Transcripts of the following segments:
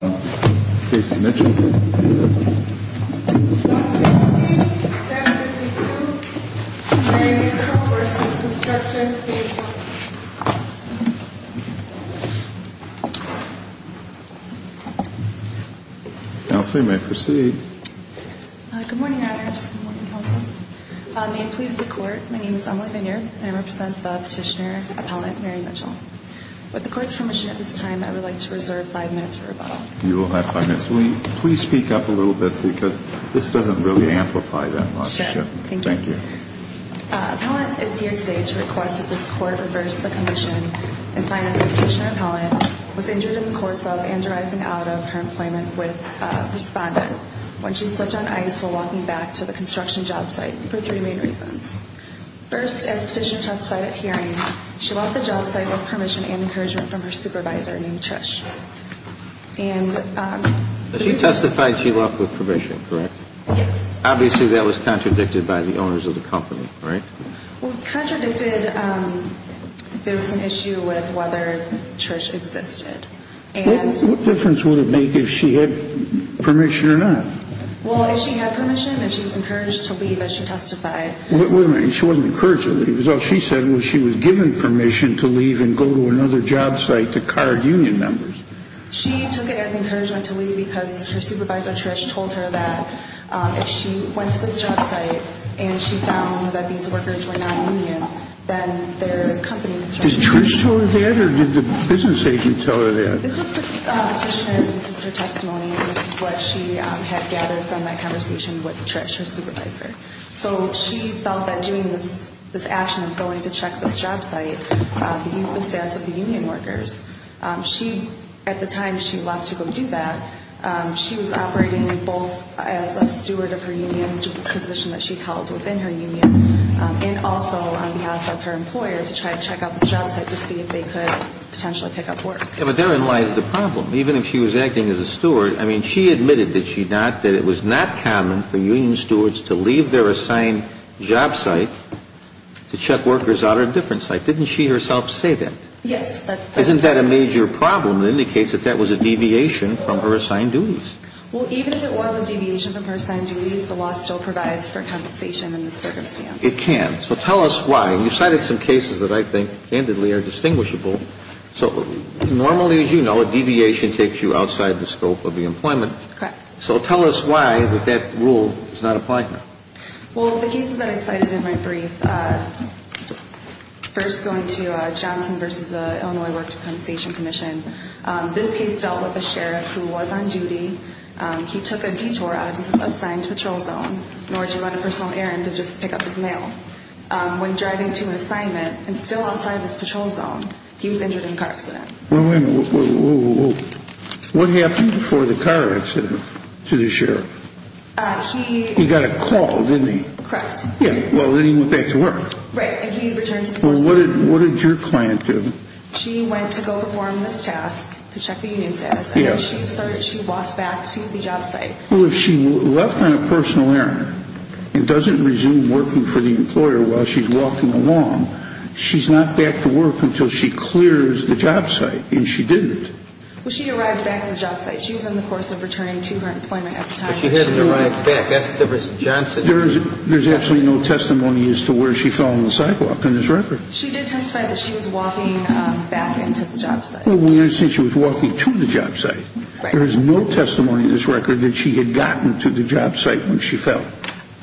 Case of Mitchell, 17752. Mary Mitchell v. Construction, Page 1. Counsel may proceed. Good morning, Your Honor. Good morning, Counsel. May it please the Court, my name is Emily Vineyard, and I represent the petitioner, appellant Mary Mitchell. With the Court's permission at this time, I would like to reserve five minutes for rebuttal. You will have five minutes. Will you please speak up a little bit, because this doesn't really amplify that much. Sure. Thank you. Thank you. Appellant is here today to request that this Court reverse the condition in finding that the petitioner, appellant, was injured in the course of and arising out of her employment with a respondent when she slipped on ice while walking back to the construction job site for three main reasons. First, as petitioner testified at hearing, she left the job site with permission and encouragement from her supervisor named Trish. She testified she left with permission, correct? Yes. Obviously, that was contradicted by the owners of the company, right? It was contradicted. There was an issue with whether Trish existed. What difference would it make if she had permission or not? Well, if she had permission, then she was encouraged to leave as she testified. Wait a minute. She wasn't encouraged to leave. It was all she said was she was given permission to leave and go to another job site to card union members. She took it as encouragement to leave because her supervisor, Trish, told her that if she went to this job site and she found that these workers were not union, then their company construction agency Did Trish tell her that or did the business agent tell her that? This is her testimony and this is what she had gathered from my conversation with Trish, her supervisor. So she felt that doing this action of going to check this job site, the status of the union workers, at the time she left to go do that, she was operating both as a steward of her union, which is a position that she held within her union, and also on behalf of her employer to see if they could potentially pick up work. Yeah, but therein lies the problem. Even if she was acting as a steward, I mean, she admitted that it was not common for union stewards to leave their assigned job site to check workers out at a different site. Didn't she herself say that? Yes. Isn't that a major problem? It indicates that that was a deviation from her assigned duties. Well, even if it was a deviation from her assigned duties, the law still provides for compensation in this circumstance. It can. So tell us why. You cited some cases that I think candidly are distinguishable. So normally, as you know, a deviation takes you outside the scope of the employment. Correct. So tell us why that that rule is not applied now. Well, the cases that I cited in my brief, first going to Johnson v. Illinois Workers' Compensation Commission, this case dealt with a sheriff who was on duty. He took a detour out of his assigned patrol zone in order to run a personal errand to just pick up his mail. When driving to an assignment and still outside of his patrol zone, he was injured in a car accident. Well, wait a minute. What happened before the car accident to the sheriff? He got a call, didn't he? Correct. Yeah. Well, then he went back to work. Right. And he returned to the patrol zone. Well, what did your client do? She went to go perform this task to check the union status. And when she started, she walked back to the job site. Well, if she left on a personal errand and doesn't resume working for the employer while she's walking along, she's not back to work until she clears the job site, and she didn't. Well, she arrived back to the job site. She was in the course of returning to her employment at the time. But she hadn't arrived back. That's the reason. There is absolutely no testimony as to where she fell on the sidewalk in this record. She did testify that she was walking back into the job site. Well, we understand she was walking to the job site. Right. There is no testimony in this record that she had gotten to the job site when she fell.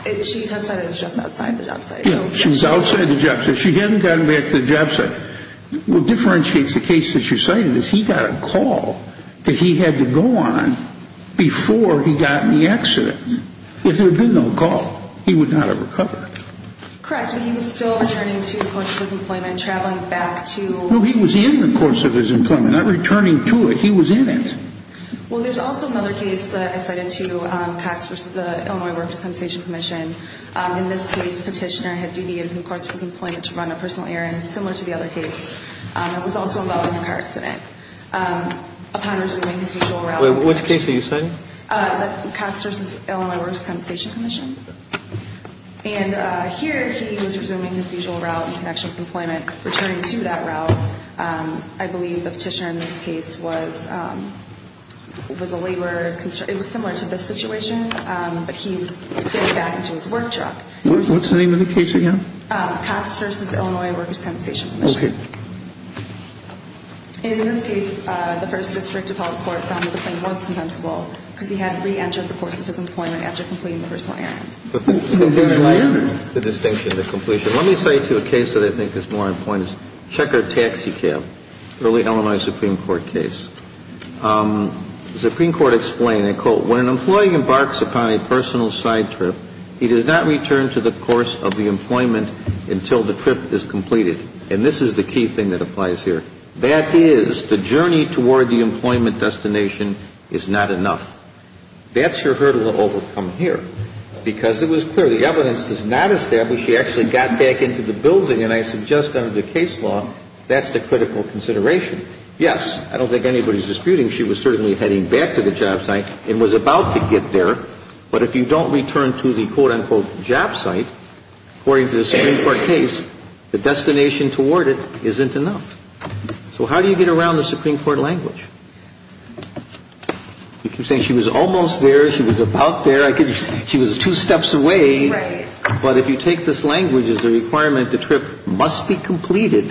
She testified it was just outside the job site. Yeah, she was outside the job site. She hadn't gotten back to the job site. What differentiates the case that you cited is he got a call that he had to go on before he got in the accident. If there had been no call, he would not have recovered. Correct. But he was still returning to the course of his employment, traveling back to— No, he was in the course of his employment, not returning to it. He was in it. Well, there is also another case that I cited too, Cox v. Illinois Workers' Compensation Commission. In this case, petitioner had deviated from the course of his employment to run a personal errand similar to the other case. It was also involved in a car accident. Upon resuming his usual route— Wait, which case are you citing? Cox v. Illinois Workers' Compensation Commission. And here he was resuming his usual route in connection with employment, returning to that route. I believe the petitioner in this case was a labor—it was similar to this situation, but he was getting back into his work truck. What's the name of the case again? Cox v. Illinois Workers' Compensation Commission. Okay. In this case, the first district appellate court found that the claim was compensable because he had reentered the course of his employment after completing the personal errand. The distinction, the completion. Let me cite you a case that I think is more important. Checker Taxi Cab, early Illinois Supreme Court case. The Supreme Court explained, I quote, When an employee embarks upon a personal side trip, he does not return to the course of the employment until the trip is completed. And this is the key thing that applies here. That is, the journey toward the employment destination is not enough. That's your hurdle to overcome here. Because it was clear the evidence does not establish he actually got back into the building. And I suggest under the case law, that's the critical consideration. Yes, I don't think anybody's disputing she was certainly heading back to the job site and was about to get there. But if you don't return to the, quote, unquote, job site, according to the Supreme Court case, the destination toward it isn't enough. So how do you get around the Supreme Court language? You keep saying she was almost there. She was about there. She was two steps away. Right. But if you take this language as a requirement, the trip must be completed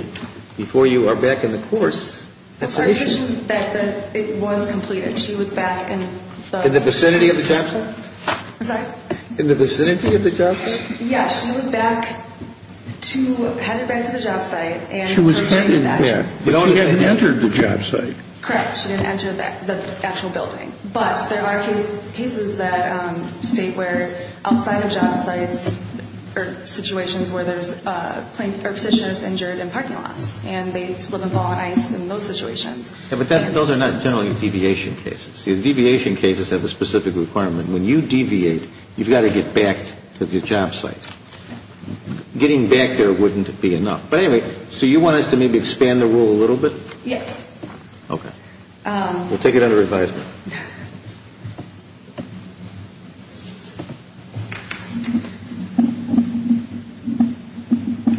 before you are back in the course. That's our issue. It's our issue that it was completed. She was back in the vicinity of the job site. I'm sorry? In the vicinity of the job site. Yes, she was back to, headed back to the job site. She was headed back. But she hadn't entered the job site. Correct. She didn't enter the actual building. But there are cases that state where outside of job sites are situations where there's plain, or petitioners injured in parking lots. And they slip and fall on ice in those situations. Yeah, but those are not generally deviation cases. See, the deviation cases have a specific requirement. When you deviate, you've got to get back to the job site. Getting back there wouldn't be enough. But anyway, so you want us to maybe expand the rule a little bit? Yes. Okay. We'll take it under advisement.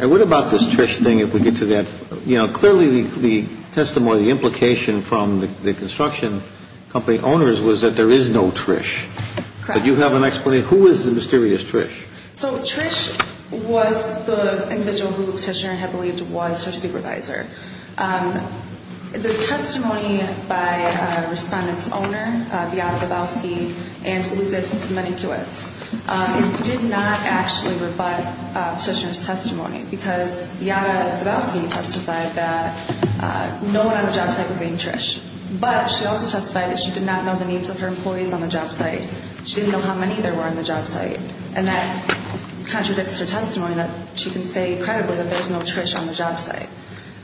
And what about this Trish thing, if we get to that? You know, clearly the testimony, the implication from the construction company owners was that there is no Trish. Correct. But you have an explanation. Who is the mysterious Trish? So Trish was the individual who the petitioner had believed was her supervisor. The testimony by a respondent's owner, Beata Babowski and Lucas Menikiewicz, did not actually rebut the petitioner's testimony. Because Beata Babowski testified that no one on the job site was named Trish. But she also testified that she did not know the names of her employees on the job site. She didn't know how many there were on the job site. And that contradicts her testimony that she can say credibly that there's no Trish on the job site.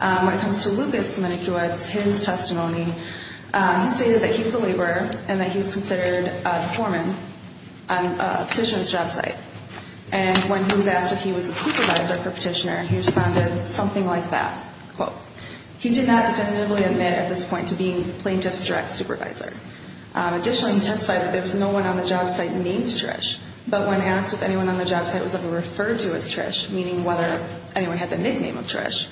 When it comes to Lucas Menikiewicz, his testimony, he stated that he was a laborer and that he was considered a foreman on a petitioner's job site. And when he was asked if he was a supervisor for a petitioner, he responded something like that. Quote, he did not definitively admit at this point to being plaintiff's direct supervisor. Additionally, he testified that there was no one on the job site named Trish. But when asked if anyone on the job site was ever referred to as Trish, meaning whether anyone had the nickname of Trish,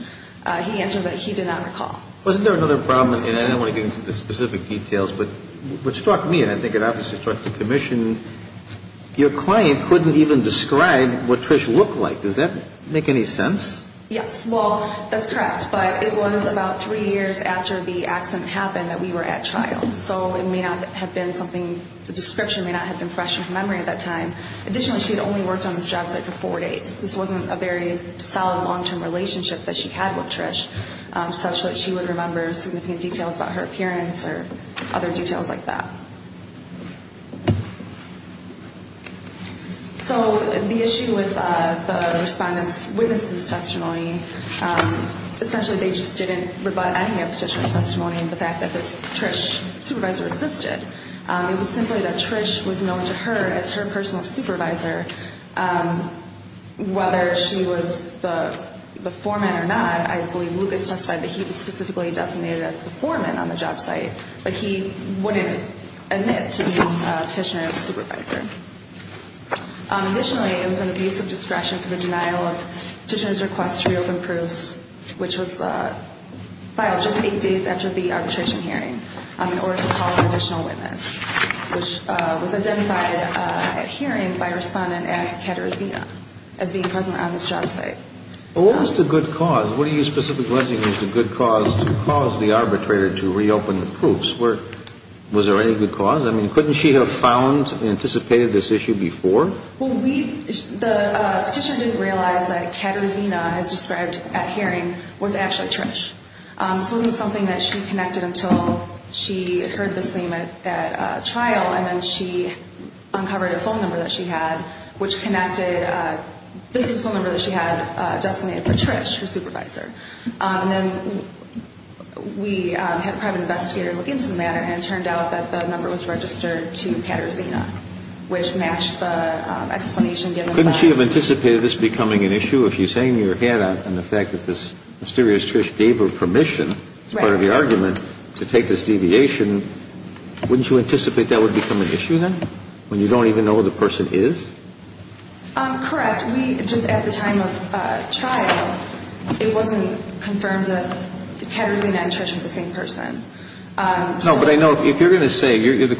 he answered that he did not recall. Wasn't there another problem, and I don't want to get into the specific details, but what struck me, and I think it obviously struck the commission, your client couldn't even describe what Trish looked like. Does that make any sense? Yes. Well, that's correct. But it was about three years after the accident happened that we were at trial. So it may not have been something, the description may not have been fresh in her memory at that time. Additionally, she had only worked on this job site for four days. This wasn't a very solid long-term relationship that she had with Trish, such that she would remember significant details about her appearance or other details like that. So the issue with the respondent's witness's testimony, essentially they just didn't rebut any of Petitioner's testimony in the fact that this Trish supervisor existed. It was simply that Trish was known to her as her personal supervisor, whether she was the foreman or not. I believe Lucas testified that he was specifically designated as the foreman on the job site, but he wouldn't admit to being Petitioner's supervisor. Additionally, it was an abuse of discretion for the denial of Petitioner's request to reopen Proust, which was filed just eight days after the arbitration hearing in order to call an additional witness, which was identified at hearing by a respondent as Katerzina as being present on this job site. Well, what was the good cause? What do you specifically think was the good cause to cause the arbitrator to reopen Proust? Was there any good cause? I mean, couldn't she have found, anticipated this issue before? Well, the Petitioner didn't realize that Katerzina, as described at hearing, was actually Trish. This wasn't something that she connected until she heard the same at that trial, and then she uncovered a phone number that she had, which connected a business phone number that she had designated for Trish, her supervisor. And then we had a private investigator look into the matter, and it turned out that the number was registered to Katerzina, which matched the explanation given. Couldn't she have anticipated this becoming an issue? If you're saying you had an effect that this mysterious Trish gave her permission as part of the argument to take this deviation, wouldn't you anticipate that would become an issue then, when you don't even know who the person is? Correct. We just, at the time of trial, it wasn't confirmed that Katerzina and Trish were the same person. No, but I know if you're going to say, you're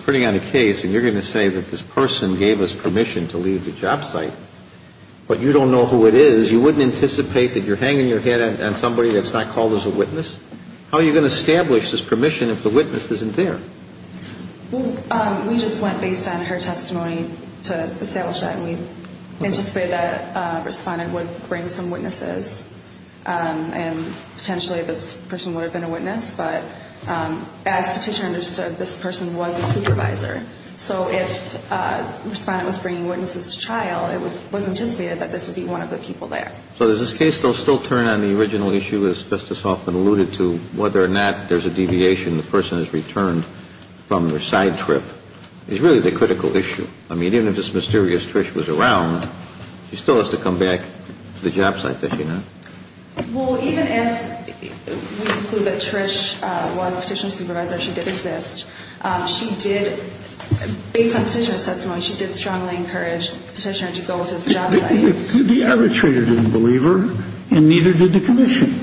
putting out a case, and you're going to say that this person gave us permission to leave the job site, but you don't know who it is, you wouldn't anticipate that you're hanging your head on somebody that's not called as a witness? How are you going to establish this permission if the witness isn't there? Well, we just went based on her testimony to establish that, and we anticipated that Respondent would bring some witnesses, and potentially this person would have been a witness. But as Petitioner understood, this person was a supervisor. So if Respondent was bringing witnesses to trial, it was anticipated that this would be one of the people there. So does this case still turn on the original issue, as Justice Hoffman alluded to, whether or not there's a deviation, the person has returned from their side trip? It's really the critical issue. I mean, even if this mysterious Trish was around, she still has to come back to the job site, doesn't she not? Well, even if we conclude that Trish was a Petitioner's supervisor, she did exist. She did, based on Petitioner's testimony, she did strongly encourage Petitioner to go to the job site. The arbitrator didn't believe her, and neither did the commission.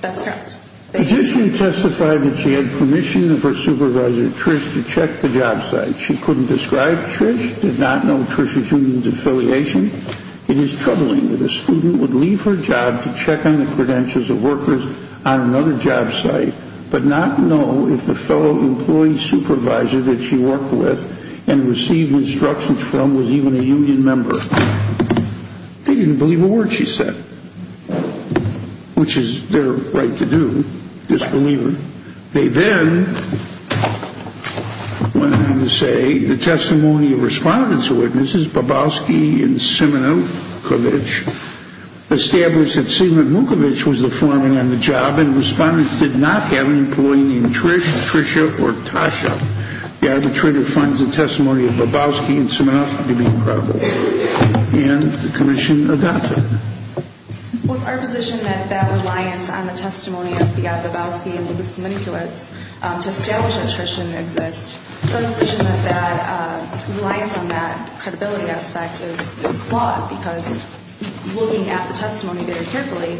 That's correct. Petitioner testified that she had permission of her supervisor, Trish, to check the job site. She couldn't describe Trish, did not know Trisha June's affiliation. It is troubling that a student would leave her job to check on the credentials of workers on another job site, but not know if the fellow employee supervisor that she worked with and received instructions from was even a union member. They didn't believe a word she said, which is their right to do, disbelieve her. They then went on to say the testimony of respondents' witnesses, Bobowski and Semenukovich, established that Sigmund Mukovich was the foreman on the job, and respondents did not have an employee named Trish, Trisha, or Tasha. The arbitrator finds the testimony of Bobowski and Semenukovich to be incredible, and the commission adopted. Well, it's our position that that reliance on the testimony of the Bobowski and the Semenukovich to establish that Trish didn't exist. It's our position that that reliance on that credibility aspect is flawed, because looking at the testimony very carefully,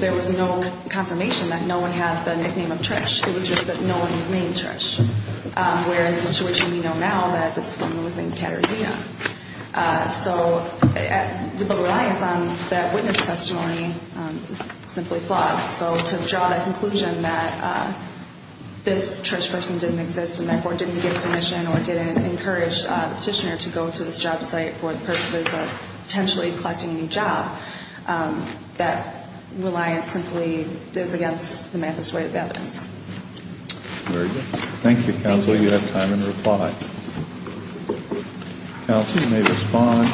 there was no confirmation that no one had the nickname of Trish. It was just that no one was named Trish, whereas the situation we know now that this woman was named Katarzyna. So the reliance on that witness testimony is simply flawed. So to draw that conclusion that this Trish person didn't exist and therefore didn't give permission or didn't encourage the petitioner to go to this job site for the purposes of potentially collecting a new job, that reliance simply is against the math as to the evidence. Thank you, counsel. You have time in reply. Counsel, you may respond.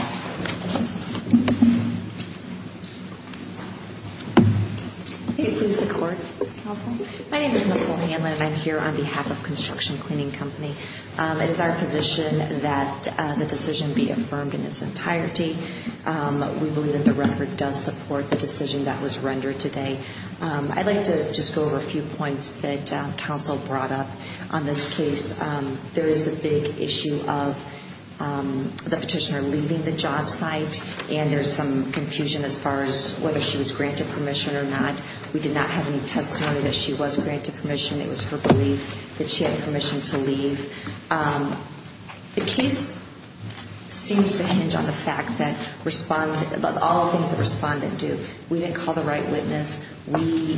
My name is Nicole Hanlon, and I'm here on behalf of Construction Cleaning Company. It is our position that the decision be affirmed in its entirety. We believe that the record does support the decision that was rendered today. I'd like to just go over a few points that counsel brought up on this case. There is the big issue of the petitioner leaving the job site, and there's some confusion as far as whether she was granted permission or not. We did not have any testimony that she was granted permission. It was her belief that she had permission to leave. The case seems to hinge on the fact that all things that respondent do. We didn't call the right witness. We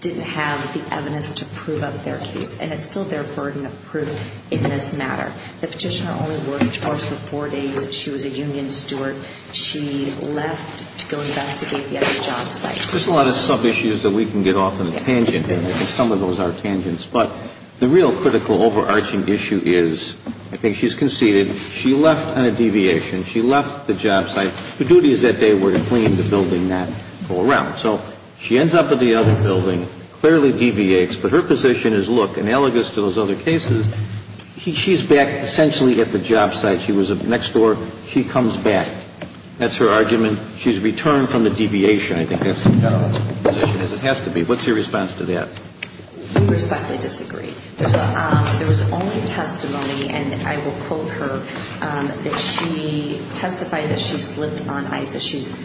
didn't have the evidence to prove up their case. And it's still their burden of proof in this matter. The petitioner only worked for us for four days. She was a union steward. She left to go investigate the other job site. There's a lot of sub-issues that we can get off on a tangent, and some of those are tangents. But the real critical overarching issue is I think she's conceded. She left on a deviation. She left the job site. Her duty is that day we're to clean the building that go around. So she ends up at the other building, clearly deviates. But her position is, look, analogous to those other cases, she's back essentially at the job site. She was next door. She comes back. That's her argument. She's returned from the deviation. I think that's the position as it has to be. What's your response to that? We respectfully disagree. There was only testimony, and I will quote her, that she testified that she slipped on ice, that she's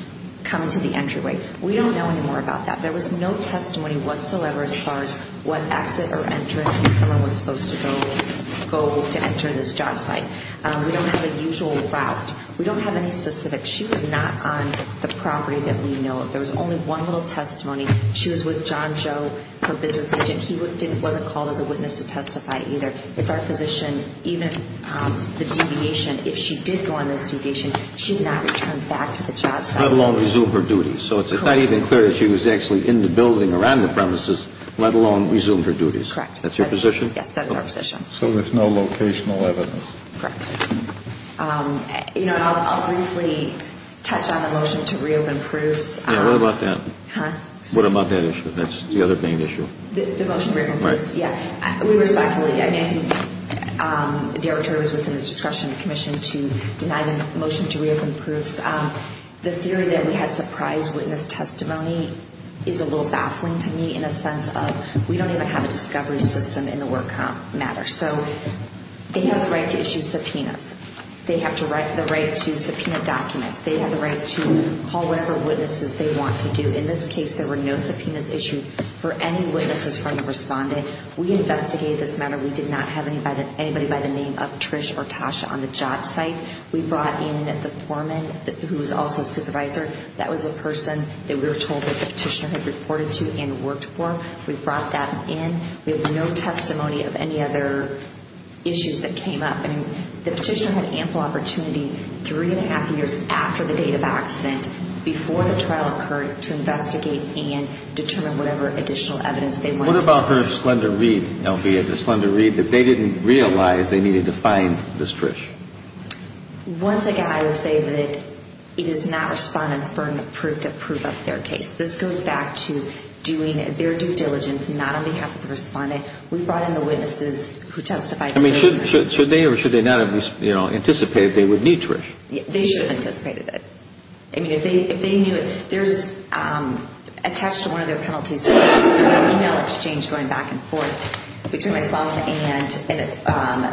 coming to the entryway. We don't know any more about that. There was no testimony whatsoever as far as what exit or entrance someone was supposed to go to enter this job site. We don't have a usual route. We don't have any specifics. She was not on the property that we know of. There was only one little testimony. She was with John Joe, her business agent. He wasn't called as a witness to testify either. It's our position, even the deviation, if she did go on this deviation, she did not return back to the job site. Let alone resume her duties. Correct. So it's not even clear that she was actually in the building around the premises, let alone resumed her duties. Correct. That's your position? Yes, that is our position. So there's no locational evidence. Correct. You know, I'll briefly touch on the motion to reopen proofs. Yeah, what about that? Huh? What about that issue? That's the other main issue. The motion to reopen proofs. Right. Yeah. We respectfully, I mean, I think the obituary was within the discretion of the commission to deny the motion to reopen proofs. The theory that we had surprise witness testimony is a little baffling to me in a sense of we don't even have a discovery system in the work matter. So they have the right to issue subpoenas. They have the right to subpoena documents. They have the right to call whatever witnesses they want to do. In this case, there were no subpoenas issued for any witnesses from the respondent. We investigated this matter. We did not have anybody by the name of Trish or Tasha on the job site. We brought in the foreman who was also a supervisor. That was a person that we were told that the petitioner had reported to and worked for. We brought that in. We have no testimony of any other issues that came up. I mean, the petitioner had ample opportunity three and a half years after the date of accident before the trial occurred to investigate and determine whatever additional evidence they wanted. What about her slender read, Althea, the slender read that they didn't realize they needed to find Miss Trish? Once again, I would say that it is not respondent's burden to prove up their case. This goes back to doing their due diligence, not on behalf of the respondent. We brought in the witnesses who testified. I mean, should they or should they not have anticipated they would need Trish? They should have anticipated it. I mean, if they knew it, there's attached to one of their penalties is an email exchange going back and forth between myself and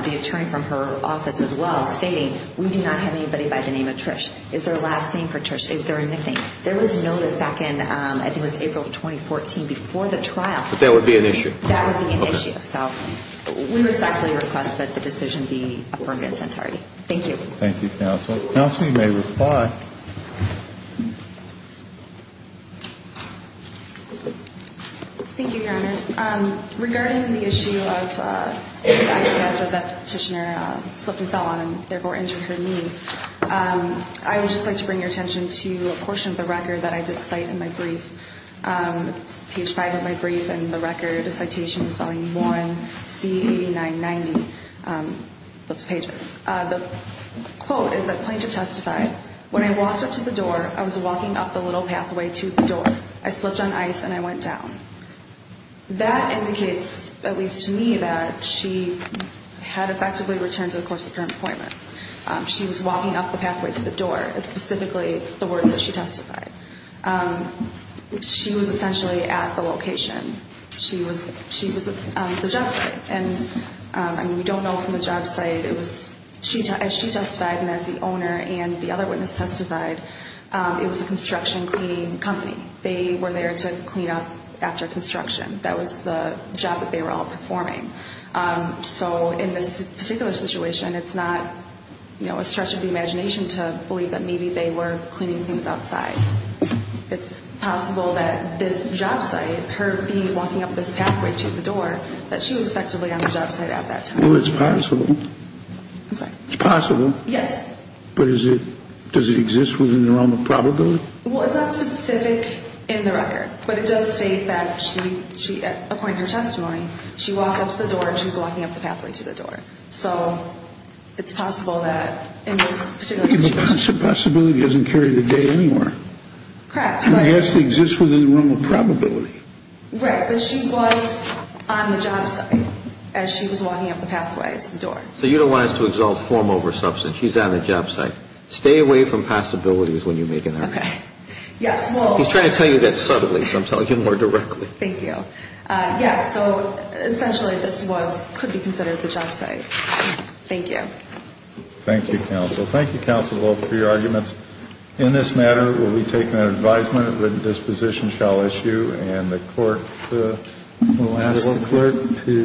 the attorney from her office as well stating, we do not have anybody by the name of Trish. Is there a last name for Trish? Is there a nickname? There was a notice back in, I think it was April of 2014, before the trial. But that would be an issue? That would be an issue. So we respectfully request that the decision be affirmed in its entirety. Thank you. Thank you, counsel. Counsel, you may reply. Thank you, Your Honors. Regarding the issue of that petitioner slipped and fell on and therefore injured her knee, I would just like to bring your attention to a portion of the record that I did cite in my brief. It's page 5 of my brief, and the record, a citation, is on Warren C-8990. Those pages. The quote is that plaintiff testified, When I walked up to the door, I was walking up the little pathway to the door. I slipped on ice and I went down. That indicates, at least to me, that she had effectively returned to the course of her employment. She was walking up the pathway to the door, specifically the words that she testified. She was essentially at the location. She was at the job site. And we don't know from the job site. As she testified and as the owner and the other witness testified, it was a construction cleaning company. They were there to clean up after construction. That was the job that they were all performing. So in this particular situation, it's not a stretch of the imagination to believe that maybe they were cleaning things outside. It's possible that this job site, her walking up this pathway to the door, that she was effectively on the job site at that time. Well, it's possible. I'm sorry. It's possible. Yes. But is it, does it exist within the realm of probability? Well, it's not specific in the record. But it does state that she, at a point in her testimony, she walked up to the door and she was walking up the pathway to the door. So it's possible that in this particular situation. The possibility doesn't carry the date anywhere. Correct. It has to exist within the realm of probability. Right. But she was on the job site as she was walking up the pathway to the door. So you don't want us to exalt form over substance. She's on the job site. Stay away from possibilities when you make an argument. Okay. Yes, well. He's trying to tell you that subtly, so I'm telling you more directly. Thank you. Yes, so essentially this was, could be considered the job site. Thank you. Thank you, counsel. Thank you, counsel, both for your arguments. In this matter, will we take an advisement that this position shall issue. And the court will ask the clerk to.